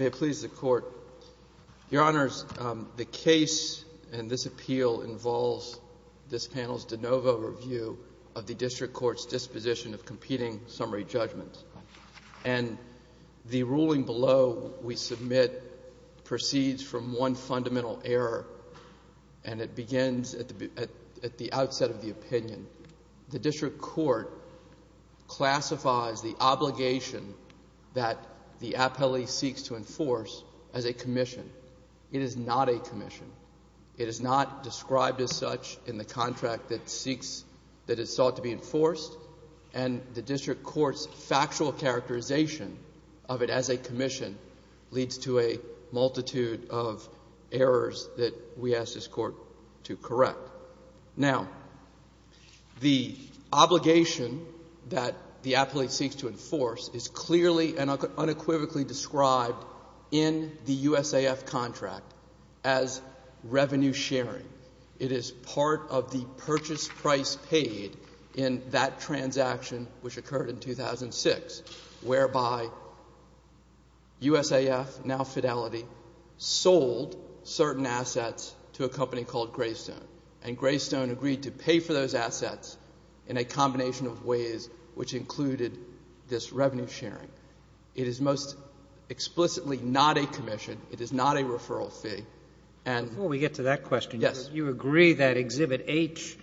May it please the Court. Your Honors, the case in this appeal involves this panel's de novo review of the District Court's disposition of competing summary judgments. And the ruling below we submit proceeds from one fundamental error. And it begins at the outset of the opinion. The District Court classifies the obligation that the appellee seeks to enforce as a commission. It is not a commission. It is not described as such in the contract that it sought to be enforced. And the District Court's factual characterization of it as a commission leads to a multitude of errors that we ask this Court to correct. Now, the obligation that the appellee seeks to enforce is clearly and unequivocally described in the USAF contract as revenue sharing. It is part of the purchase price paid in that transaction which occurred in 2006, whereby USAF, now Fidelity, sold certain assets to a company called Greystone. And Greystone agreed to pay for those assets in a combination of ways which included this revenue sharing. It is most explicitly not a commission. It is not a referral fee. Before we get to that question, you agree that Exhibit H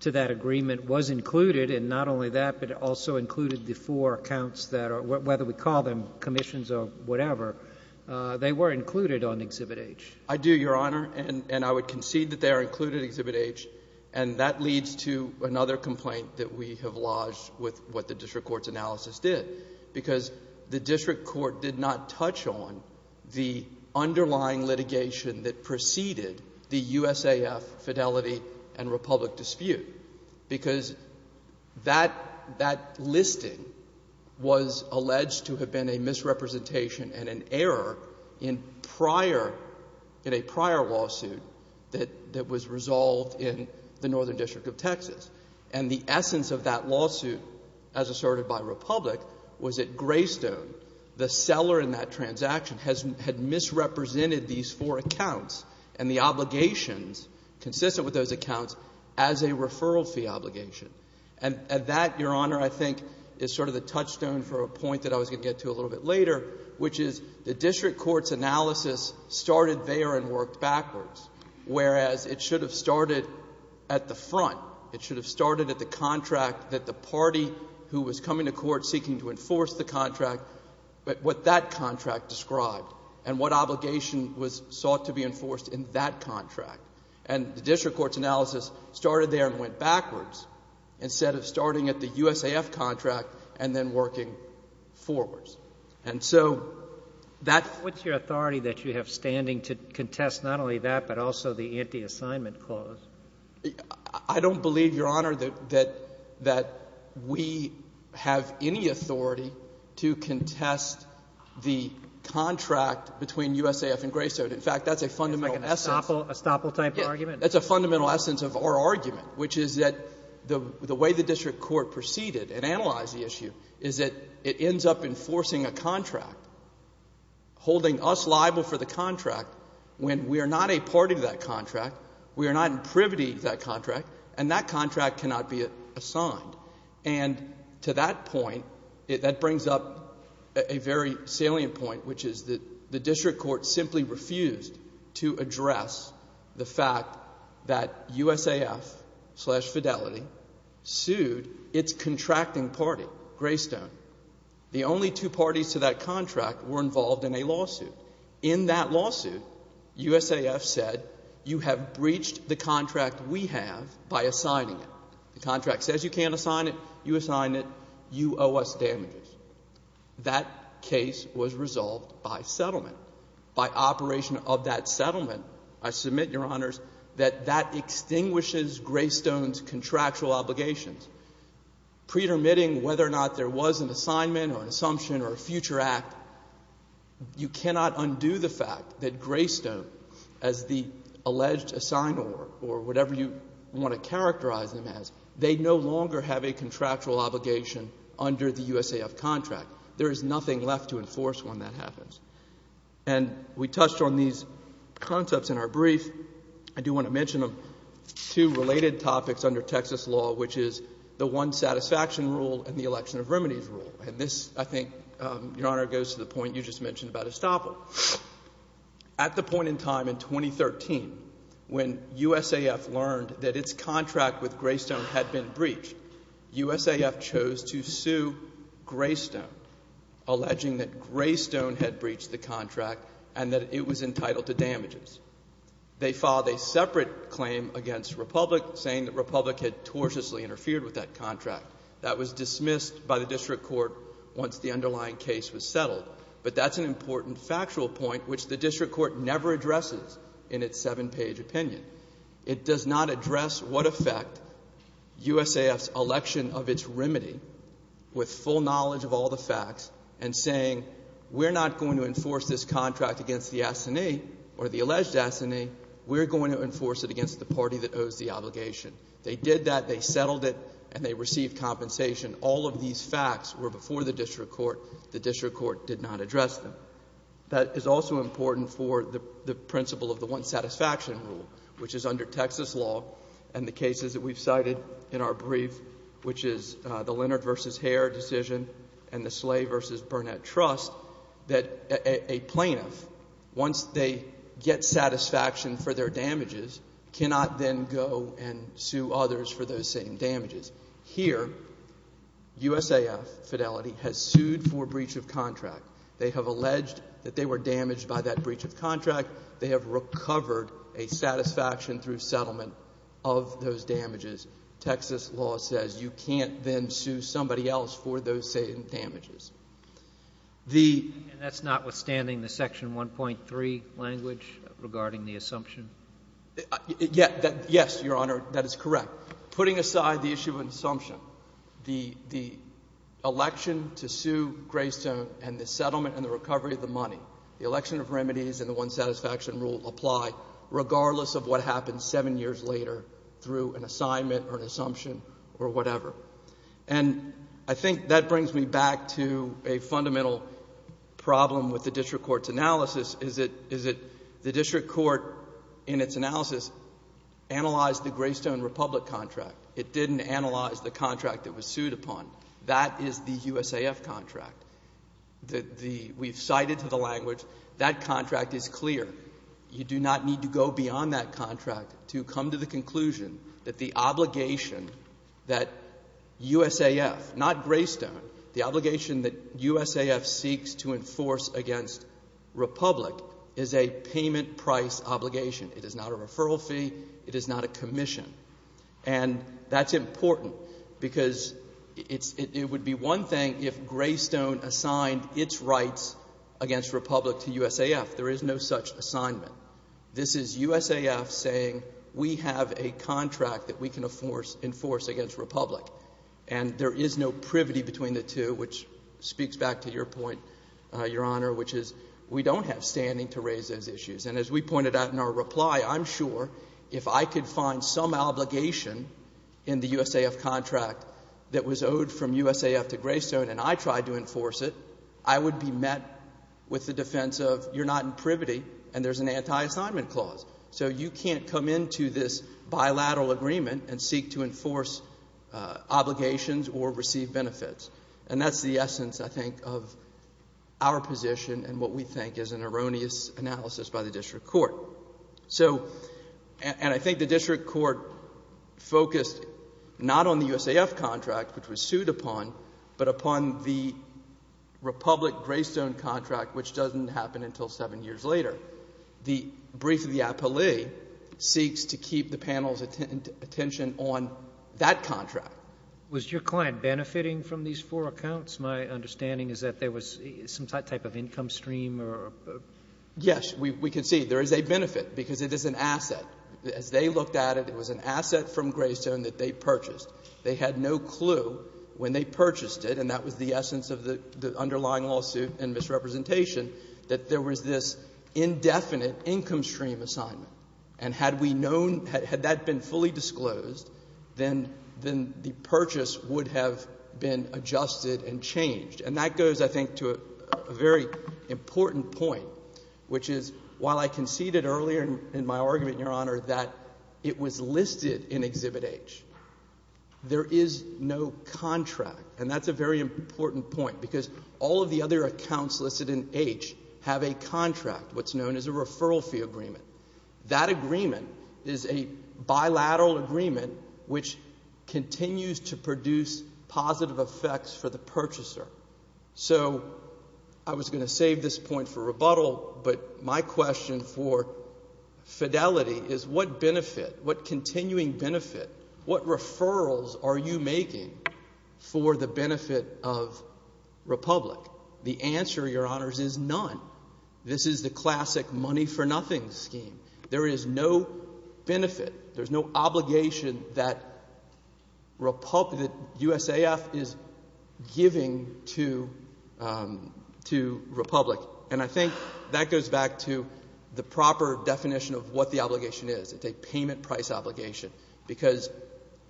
to that agreement was included, and not only that, but also included the four accounts that are, whether we call them commissions or whatever, they were included on Exhibit H. I do, Your Honor. And I would concede that they are included in Exhibit H. And that leads to another complaint that we have lodged with what the District Court's analysis did, because the District Court did not touch on the underlying litigation that preceded the USAF, Fidelity, and Republic dispute, because that listing was alleged to have been a misrepresentation and an error in a prior lawsuit that was resolved in the Northern District of Texas. And the essence of that lawsuit, as asserted by Republic, was that Greystone, the seller in that transaction, had misrepresented these four accounts and the obligations consistent with those accounts as a referral fee obligation. And that, Your Honor, I think is sort of the touchstone for a point that I was going to get to a little bit later, which is the District Court's analysis started there and worked backwards, whereas it should have started at the front. It should have started at the contract that the party who was coming to court seeking to enforce the contract, but what that contract described and what obligation was sought to be enforced in that contract. And the District Court's analysis started there and went backwards, instead of starting at the USAF contract and then working forwards. And so that — What's your authority that you have standing to contest not only that, but also the anti-assignment clause? I don't believe, Your Honor, that we have any authority to contest the contract between USAF and Greystone. In fact, that's a fundamental essence. It's like an estoppel type argument? Yes. That's a fundamental essence of our argument, which is that the way the District Court proceeded and analyzed the issue is that it ends up enforcing a contract, holding us liable for the contract when we are not a part of that contract, we are not in privity of that contract, and that contract cannot be assigned. And to that point, that brings up a very salient point, which is that the District Court simply refused to address the fact that USAF-slash-Fidelity sued its contracting party, Greystone. The only two parties to that contract were involved in a lawsuit. In that lawsuit, USAF said you have breached the contract we have by assigning it. The contract says you can't assign it. You assign it. You owe us damages. That case was resolved by settlement. By operation of that settlement, I submit, Your Honors, that that extinguishes Greystone's contractual obligations. Pretermitting whether or not there was an assignment or an assumption or a future act, you cannot undo the fact that Greystone, as the alleged assigned or whatever you want to characterize them as, they no longer have a contractual obligation under the USAF contract. There is nothing left to enforce when that happens. And we touched on these concepts in our brief. I do want to mention two related topics under Texas law, which is the One Satisfaction Rule and the Election of Remedies Rule. And this, I think, Your Honor, goes to the point you just mentioned about Estoppel. At the point in time in 2013, when USAF learned that its contract with Greystone had been breached, USAF chose to sue Greystone, alleging that Greystone had breached the contract and that it was entitled to damages. They filed a separate claim against Republic, saying that Republic had tortiously interfered with that contract. That was dismissed by the district court once the underlying case was settled. But that's an important factual point, which the district court never addresses in its seven-page opinion. It does not address what effect USAF's election of its remedy, with full knowledge of all the facts, and saying we're not going to enforce this contract against the assignee or the alleged assignee. We're going to enforce it against the party that owes the obligation. They did that. They settled it, and they received compensation. All of these facts were before the district court. The district court did not address them. That is also important for the principle of the one-satisfaction rule, which is under Texas law and the cases that we've cited in our brief, which is the Leonard v. Hare decision and the Slay v. Burnett trust, that a plaintiff, once they get satisfaction for their damages, cannot then go and sue others for those same damages. Here, USAF, Fidelity, has sued for breach of contract. They have alleged that they were damaged by that breach of contract. They have recovered a satisfaction through settlement of those damages. Texas law says you can't then sue somebody else for those same damages. The — And that's notwithstanding the Section 1.3 language regarding the assumption? Yes, Your Honor, that is correct. Putting aside the issue of an assumption, the election to sue Greystone and the settlement and the recovery of the money, the election of remedies and the one-satisfaction rule apply regardless of what happens seven years later through an assignment or an assumption or whatever. And I think that brings me back to a fundamental problem with the district court's analysis. The district court, in its analysis, analyzed the Greystone-Republic contract. It didn't analyze the contract that was sued upon. That is the USAF contract. We've cited to the language that contract is clear. You do not need to go beyond that contract to come to the conclusion that the obligation that USAF, not Greystone, the obligation that USAF seeks to enforce against Republic is a payment price obligation. It is not a referral fee. It is not a commission. And that's important because it would be one thing if Greystone assigned its rights against Republic to USAF. There is no such assignment. This is USAF saying we have a contract that we can enforce against Republic. And there is no privity between the two, which speaks back to your point, Your Honor, which is we don't have standing to raise those issues. And as we pointed out in our reply, I'm sure if I could find some obligation in the USAF contract that was owed from USAF to Greystone and I tried to enforce it, I would be met with the defense of you're not in privity and there's an anti-assignment clause. So you can't come into this bilateral agreement and seek to enforce obligations or receive benefits. And that's the essence, I think, of our position and what we think is an erroneous analysis by the district court. And I think the district court focused not on the USAF contract, which was sued upon, but upon the Republic-Greystone contract, which doesn't happen until seven years later. The brief of the appellee seeks to keep the panel's attention on that contract. Was your client benefiting from these four accounts? My understanding is that there was some type of income stream or — Yes. We can see there is a benefit because it is an asset. As they looked at it, it was an asset from Greystone that they purchased. They had no clue when they purchased it, and that was the essence of the underlying lawsuit and misrepresentation, that there was this indefinite income stream assignment. And had we known — had that been fully disclosed, then the purchase would have been adjusted and changed. And that goes, I think, to a very important point, which is while I conceded earlier in my argument, Your Honor, that it was listed in Exhibit H, there is no contract, and that's a very important point because all of the other accounts listed in H have a contract, what's known as a referral fee agreement. That agreement is a bilateral agreement, which continues to produce positive effects for the purchaser. So I was going to save this point for rebuttal, but my question for fidelity is what benefit, what continuing benefit, what referrals are you making for the benefit of Republic? The answer, Your Honors, is none. This is the classic money-for-nothing scheme. There is no benefit. There's no obligation that USAF is giving to Republic. And I think that goes back to the proper definition of what the obligation is. It's a payment price obligation because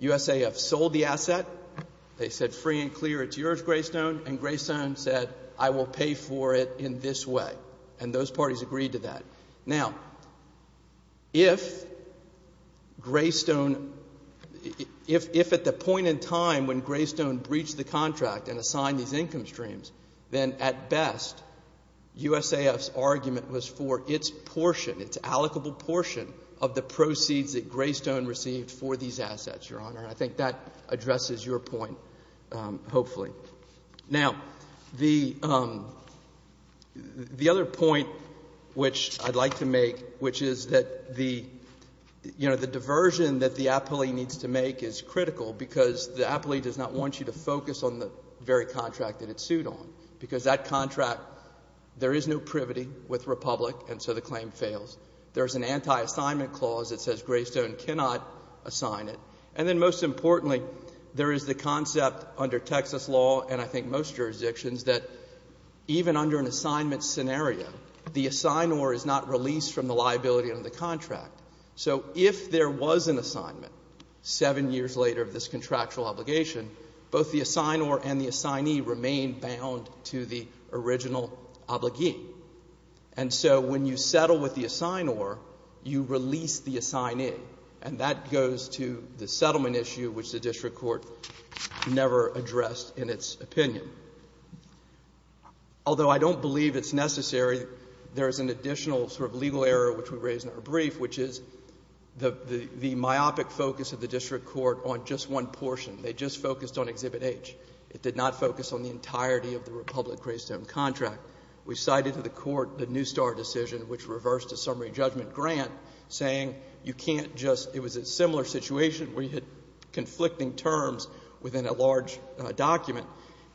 USAF sold the asset, they said free and clear it's yours, Greystone, and Greystone said I will pay for it in this way, and those parties agreed to that. Now, if Greystone, if at the point in time when Greystone breached the contract and assigned these income streams, then at best USAF's argument was for its portion, its allocable portion of the proceeds that Greystone received for these assets, Your Honor, and I think that addresses your point, hopefully. Now, the other point which I'd like to make, which is that the diversion that the appellee needs to make is critical because the appellee does not want you to focus on the very contract that it sued on because that contract, there is no privity with Republic and so the claim fails. There's an anti-assignment clause that says Greystone cannot assign it. And then most importantly, there is the concept under Texas law and I think most jurisdictions that even under an assignment scenario, the assignor is not released from the liability under the contract. So if there was an assignment seven years later of this contractual obligation, both the assignor and the assignee remain bound to the original obligee. And so when you settle with the assignor, you release the assignee and that goes to the settlement issue which the district court never addressed in its opinion. Although I don't believe it's necessary, there is an additional sort of legal error which we raised in our brief which is the myopic focus of the district court on just one portion. They just focused on Exhibit H. It did not focus on the entirety of the Republic-Greystone contract. We cited to the court the New Star decision which reversed a summary judgment grant saying you can't just – it was a similar situation where you had conflicting terms within a large document.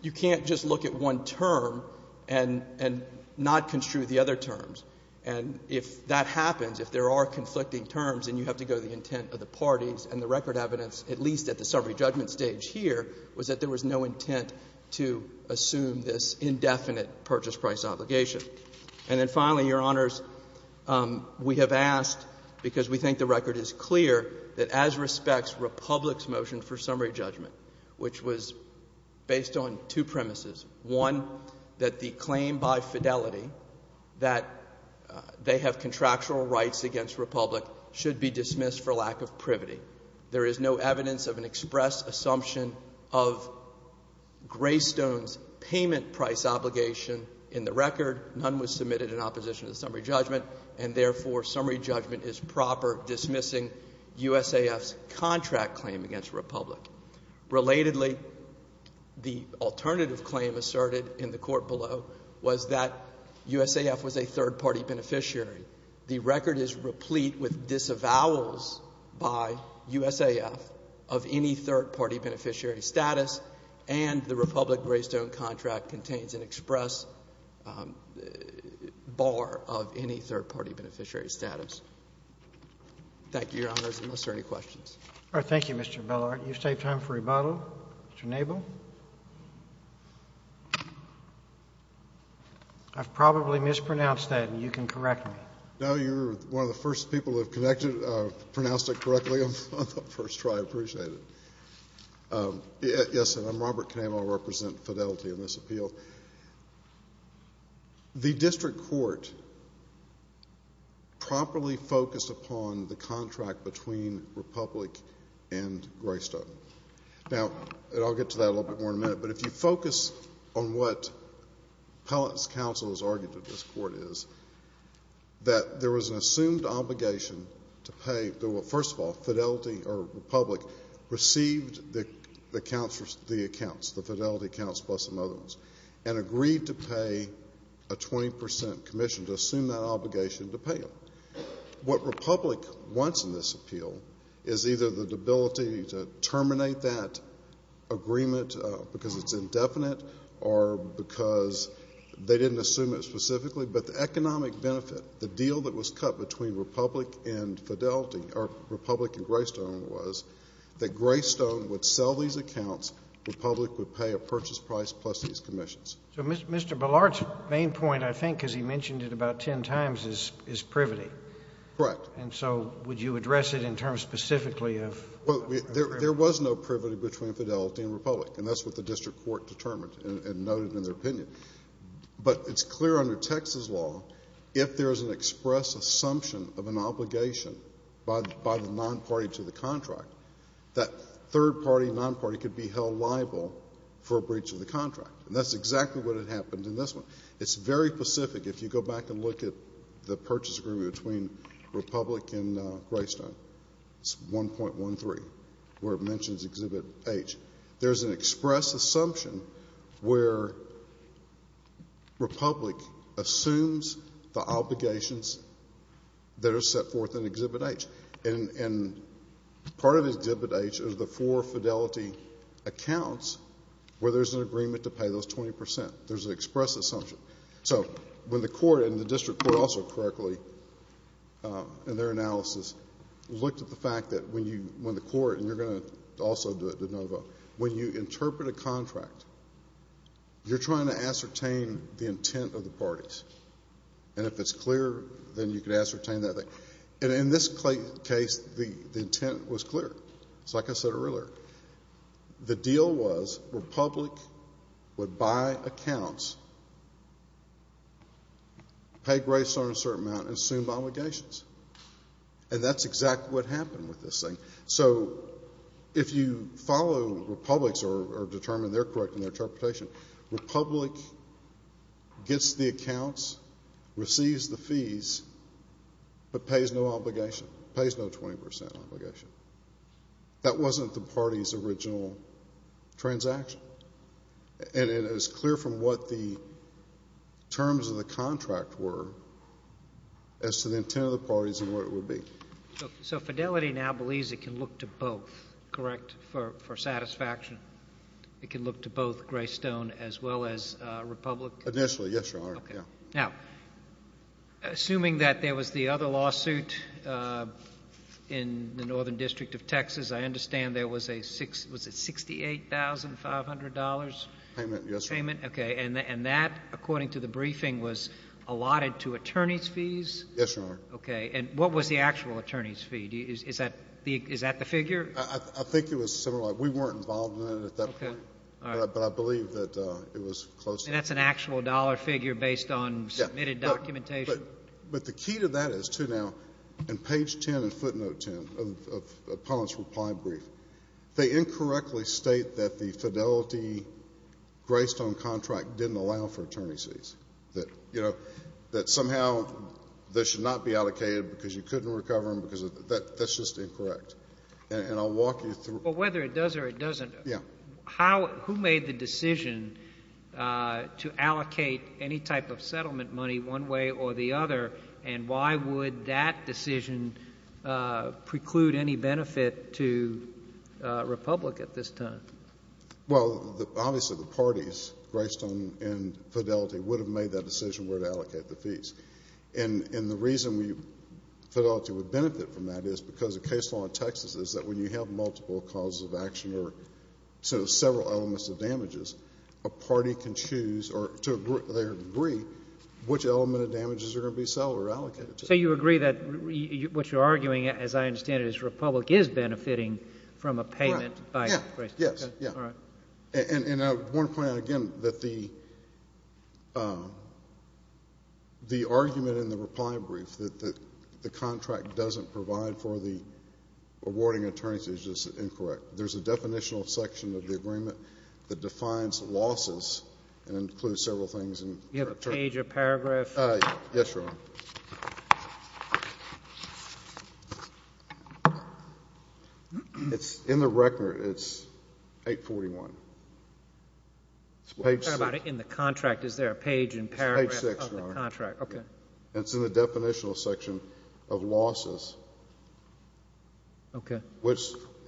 You can't just look at one term and not construe the other terms. And if that happens, if there are conflicting terms and you have to go to the intent of the parties and the record evidence, at least at the summary judgment stage here, was that there was no intent to assume this indefinite purchase price obligation. And then finally, Your Honors, we have asked because we think the record is clear that as respects Republic's motion for summary judgment which was based on two premises. One, that the claim by fidelity that they have contractual rights against Republic should be dismissed for lack of privity. There is no evidence of an express assumption of Greystone's payment price obligation in the record. None was submitted in opposition to the summary judgment. And therefore, summary judgment is proper dismissing USAF's contract claim against Republic. Relatedly, the alternative claim asserted in the court below was that USAF was a third-party beneficiary. The record is replete with disavowals by USAF of any third-party beneficiary status, and the Republic-Greystone contract contains an express bar of any third-party beneficiary status. Thank you, Your Honors. Unless there are any questions. Roberts. Thank you, Mr. Bellart. You save time for rebuttal. Mr. Nabel. I've probably mispronounced that, and you can correct me. No, you're one of the first people who have connected or pronounced it correctly on the first try. I appreciate it. Yes, sir. I'm Robert Canamo. I represent Fidelity in this appeal. The district court properly focused upon the contract between Republic and Greystone. Now, I'll get to that a little bit more in a minute, but if you focus on what Pellitt's counsel has argued to this court is, that there was an assumed obligation to pay the — well, first of all, Fidelity or Republic received the accounts, the Fidelity accounts plus some other ones, and agreed to pay a 20 percent commission to assume that obligation to pay them. What Republic wants in this appeal is either the ability to terminate that agreement because it's indefinite or because they didn't assume it specifically, but the economic benefit, the deal that was cut between Republic and Fidelity — or Republic and Greystone was that Greystone would sell these accounts. Republic would pay a purchase price plus these commissions. So Mr. Ballard's main point, I think, because he mentioned it about ten times, is privity. Correct. And so would you address it in terms specifically of — Well, there was no privity between Fidelity and Republic, and that's what the district court determined and noted in their opinion. But it's clear under Texas law if there is an express assumption of an obligation by the non-party to the contract, that third party, non-party could be held liable for a breach of the contract. And that's exactly what happened in this one. It's very specific. If you go back and look at the purchase agreement between Republic and Greystone, it's 1.13, where it mentions Exhibit H. There's an express assumption where Republic assumes the obligations that are set forth in Exhibit H. And part of Exhibit H is the four Fidelity accounts where there's an agreement to pay those 20%. There's an express assumption. So when the court and the district court also correctly, in their analysis, looked at the fact that when the court, and you're going to also do it, DeNova, when you interpret a contract, you're trying to ascertain the intent of the parties. And if it's clear, then you can ascertain that. And in this case, the intent was clear. It's like I said earlier. The deal was Republic would buy accounts, pay Greystone a certain amount, and assume obligations. And that's exactly what happened with this thing. So if you follow Republic's or determine they're correct in their interpretation, Republic gets the accounts, receives the fees, but pays no obligation, pays no 20% obligation. That wasn't the party's original transaction. And it is clear from what the terms of the contract were as to the intent of the parties and what it would be. So Fidelity now believes it can look to both, correct, for satisfaction? It can look to both Greystone as well as Republic? Initially, yes, Your Honor. Okay. Now, assuming that there was the other lawsuit in the Northern District of Texas, I understand there was a $68,500 payment? Yes, Your Honor. Okay. And that, according to the briefing, was allotted to attorney's fees? Yes, Your Honor. Okay. And what was the actual attorney's fee? Is that the figure? I think it was similar. We weren't involved in it at that point. Okay. All right. But I believe that it was close. And that's an actual dollar figure based on submitted documentation? Yes. But the key to that is, too, now, in page 10 and footnote 10 of Pollen's reply brief, they incorrectly state that the Fidelity Greystone contract didn't allow for attorney's fees, that, you know, that somehow this should not be allocated because you couldn't recover them, because that's just incorrect. And I'll walk you through. But whether it does or it doesn't, who made the decision to allocate any type of settlement money one way or the other, and why would that decision preclude any benefit to Republic at this time? Well, obviously, the parties, Greystone and Fidelity, would have made that decision where to allocate the fees. And the reason Fidelity would benefit from that is because the case law in Texas is that when you have multiple causes of action or sort of several elements of damages, a party can choose or to their degree which element of damages are going to be sold or allocated to them. So you agree that what you're arguing, as I understand it, is Republic is benefiting from a payment by Greystone? Right. Yes. Yes. All right. And I want to point out again that the argument in the reply brief that the contract doesn't provide for the awarding attorneys is just incorrect. There's a definitional section of the agreement that defines losses and includes several things. You have a page or paragraph? Yes, Your Honor. It's in the record. It's 841. It's page 6. Sorry about it. In the contract, is there a page and paragraph of the contract? It's page 6, Your Honor. Okay. And it's in the definitional section of losses. Okay. Which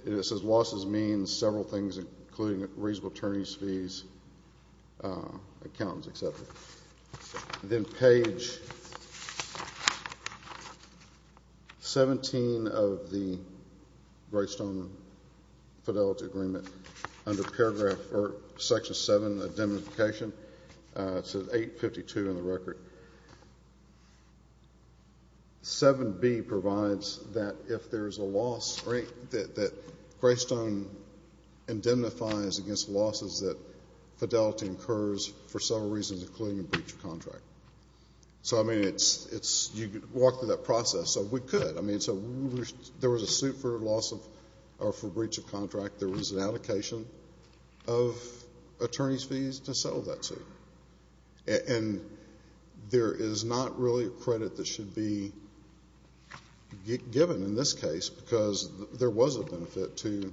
it says losses means several things including reasonable attorneys' fees, accountants, et cetera. Then page 17 of the Greystone Fidelity Agreement under paragraph or section 7 of the classification. It says 852 in the record. 7B provides that if there's a loss that Greystone indemnifies against losses that fidelity incurs for several reasons including a breach of contract. So, I mean, you walk through that process. So we could. I mean, so there was a suit for breach of contract. There was an allocation of attorneys' fees to settle that suit. And there is not really a credit that should be given in this case because there was a benefit to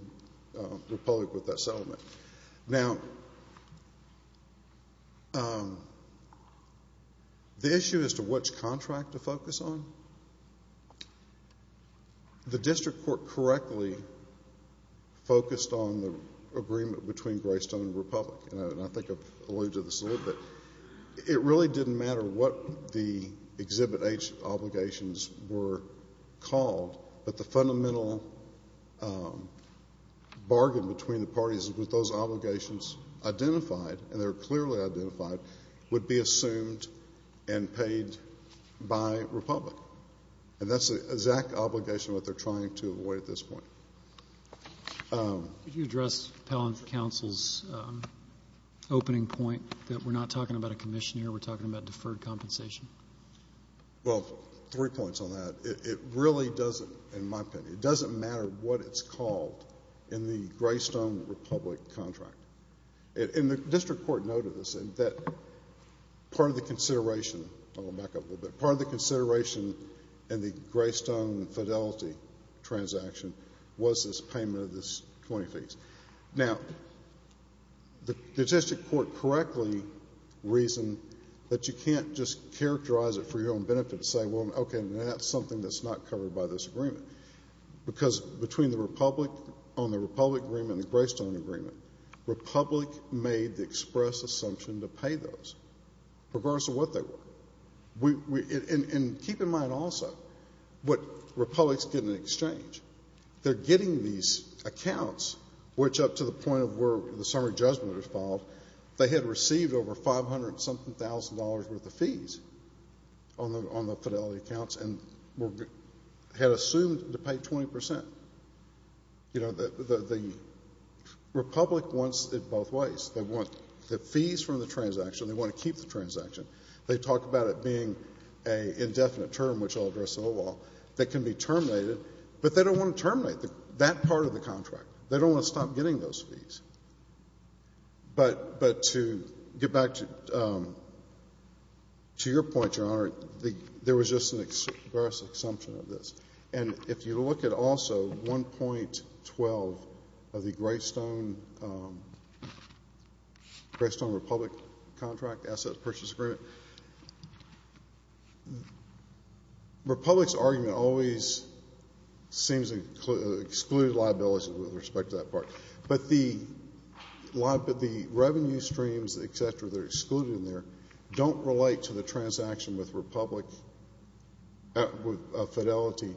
the public with that settlement. Now, the issue as to which contract to focus on, the district court correctly focused on the agreement between Greystone and Republic. And I think I've alluded to this a little bit. It really didn't matter what the Exhibit H obligations were called. But the fundamental bargain between the parties was those obligations identified, and they were clearly identified, would be assumed and paid by Republic. And that's the exact obligation that they're trying to avoid at this point. Could you address Pell and Council's opening point that we're not talking about a commissioner, we're talking about deferred compensation? Well, three points on that. It really doesn't, in my opinion, it doesn't matter what it's called in the Greystone-Republic contract. And the district court noted this, that part of the consideration, I'll go back up a little bit, part of the consideration in the Greystone-Fidelity transaction was this payment of this 20 fees. Now, the district court correctly reasoned that you can't just characterize it for your own benefit and say, well, okay, that's something that's not covered by this agreement. Because between the Republic on the Republic agreement and the Greystone agreement, Republic made the express assumption to pay those, regardless of what they were. And keep in mind also what Republic's getting in exchange. They're getting these accounts, which up to the point of where the summary judgment is filed, they had received over $500-something thousand worth of fees on the Fidelity accounts and had assumed to pay 20%. You know, the Republic wants it both ways. They want the fees from the transaction, they want to keep the transaction. They talk about it being an indefinite term, which I'll address in a little while, that can be terminated. But they don't want to terminate that part of the contract. They don't want to stop getting those fees. But to get back to your point, Your Honor, there was just an express assumption of this. And if you look at also 1.12 of the Greystone-Republic contract, asset purchase agreement, Republic's argument always seems to exclude liability with respect to that part. But the revenue streams, et cetera, that are excluded in there, don't relate to the transaction with Republic of Fidelity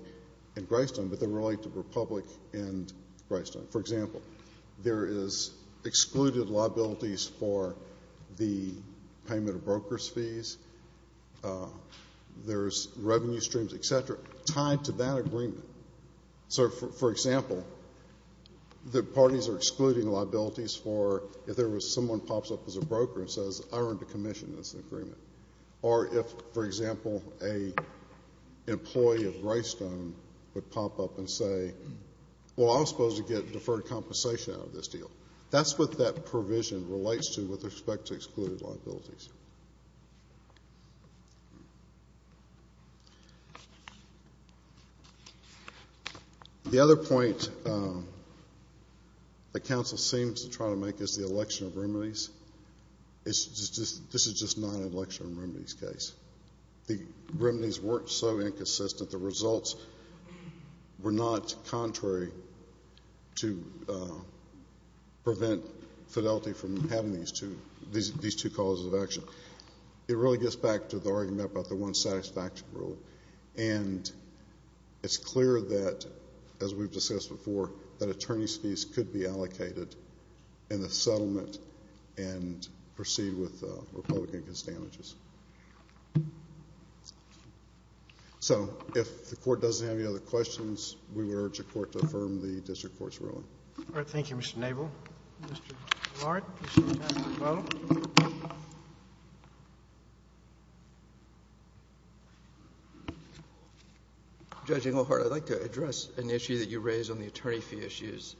in Greystone, but they relate to Republic in Greystone. For example, there is excluded liabilities for the payment of broker's fees. There's revenue streams, et cetera, tied to that agreement. So, for example, the parties are excluding liabilities for if there was someone pops up as a broker and says, I earned a commission in this agreement. Or if, for example, an employee of Greystone would pop up and say, well, I was supposed to get deferred compensation out of this deal. That's what that provision relates to with respect to excluded liabilities. The other point the counsel seems to try to make is the election of remedies. This is just not an election of remedies case. The remedies weren't so inconsistent. The results were not contrary to prevent Fidelity from having these two causes of action. It really gets back to the argument about the one satisfaction rule. And it's clear that, as we've discussed before, that attorney's fees could be allocated in the settlement and proceed with Republican disadvantages. So if the Court doesn't have any other questions, we would urge the Court to affirm the district court's ruling. All right. Thank you, Mr. Nabel. Mr. Lahrt. Judge Englehardt, I'd like to address an issue that you raised on the attorney fee issues.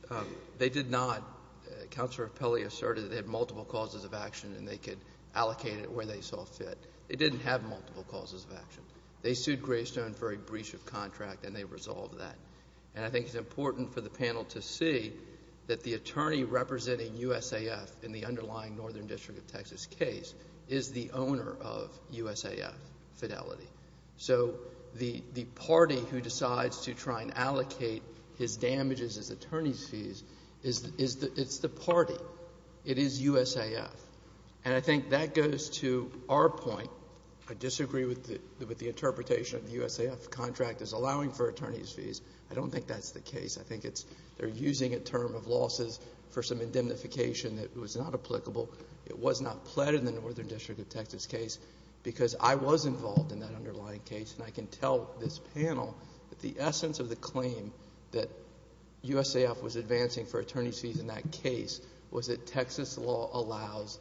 They did not—Counselor Pelley asserted that they had multiple causes of action and they could allocate it where they saw fit. They didn't have multiple causes of action. They sued Greystone for a breach of contract, and they resolved that. And I think it's important for the panel to see that the attorney representing USAF in the underlying Northern District of Texas case is the owner of USAF Fidelity. So the party who decides to try and allocate his damages as attorney's fees is the party. It is USAF. And I think that goes to our point. I disagree with the interpretation of the USAF contract as allowing for attorney's fees. I don't think that's the case. I think they're using a term of losses for some indemnification that was not applicable. It was not pled in the Northern District of Texas case because I was involved in that underlying case, and I can tell this panel that the essence of the claim that USAF was advancing for attorney's fees in that case was that Texas law allows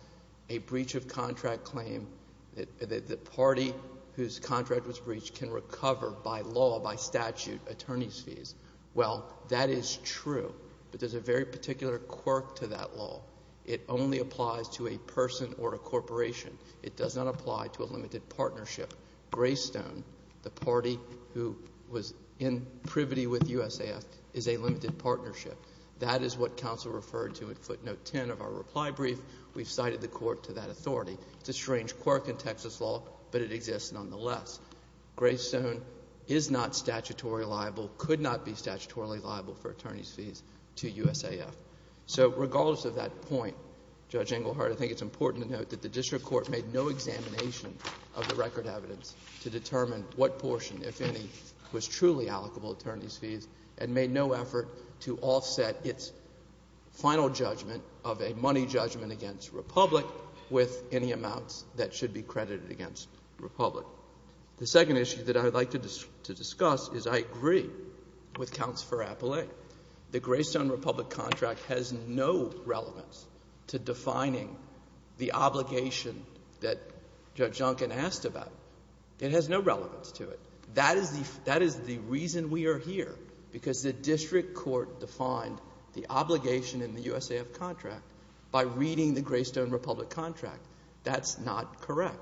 a breach of contract claim that the party whose contract was breached can recover by law, by statute, attorney's fees. Well, that is true, but there's a very particular quirk to that law. It only applies to a person or a corporation. It does not apply to a limited partnership. Greystone, the party who was in privity with USAF, is a limited partnership. That is what counsel referred to in footnote 10 of our reply brief. We've cited the court to that authority. It's a strange quirk in Texas law, but it exists nonetheless. Greystone is not statutorily liable, could not be statutorily liable for attorney's fees to USAF. So regardless of that point, Judge Engelhardt, I think it's important to note that the district court made no examination of the record evidence to determine what portion, if any, was truly allocable attorney's fees and made no effort to offset its final judgment of a money judgment against Republic with any amounts that should be credited against Republic. The second issue that I would like to discuss is I agree with Counselor Appollé. The Greystone Republic contract has no relevance to defining the obligation that Judge Duncan asked about. It has no relevance to it. That is the reason we are here because the district court defined the obligation in the USAF contract by reading the Greystone Republic contract. That's not correct.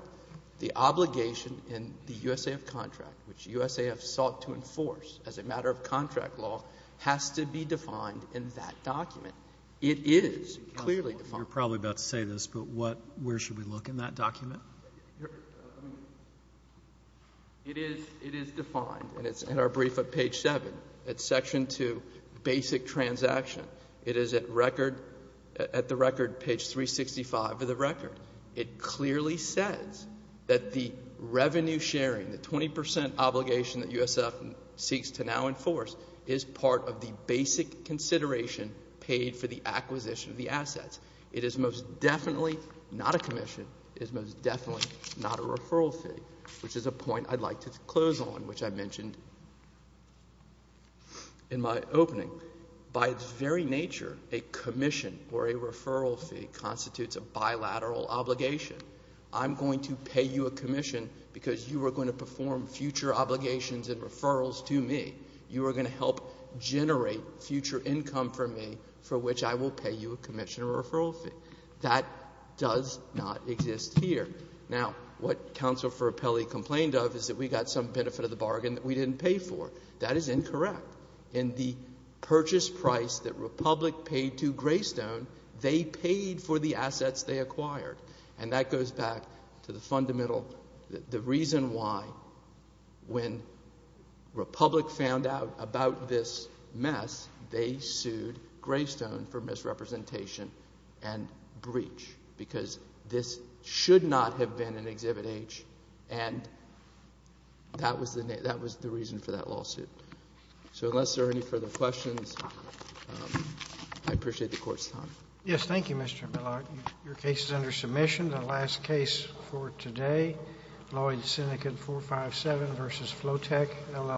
The obligation in the USAF contract, which USAF sought to enforce as a matter of contract law, has to be defined in that document. It is clearly defined. You're probably about to say this, but what, where should we look in that document? It is defined, and it's in our brief at page 7. It's section 2, basic transaction. It is at record, at the record, page 365 of the record. It clearly says that the revenue sharing, the 20% obligation that USAF seeks to now enforce, is part of the basic consideration paid for the acquisition of the assets. It is most definitely not a commission. It is most definitely not a referral fee, which is a point I'd like to close on, which I mentioned in my opening. By its very nature, a commission or a referral fee constitutes a bilateral obligation. I'm going to pay you a commission because you are going to perform future obligations and referrals to me. You are going to help generate future income for me for which I will pay you a commission or referral fee. That does not exist here. Now, what Counsel for Appellee complained of is that we got some benefit of the bargain that we didn't pay for. That is incorrect. In the purchase price that Republic paid to Greystone, they paid for the assets they acquired. And that goes back to the fundamental, the reason why when Republic found out about this mess, they sued Greystone for misrepresentation and breach because this should not have been an Exhibit H, and that was the reason for that lawsuit. So unless there are any further questions, I appreciate the Court's time. Yes. Thank you, Mr. Millock. Your case is under submission. The last case for today, Lloyd-Senecad 457 v. Flotec, LLC.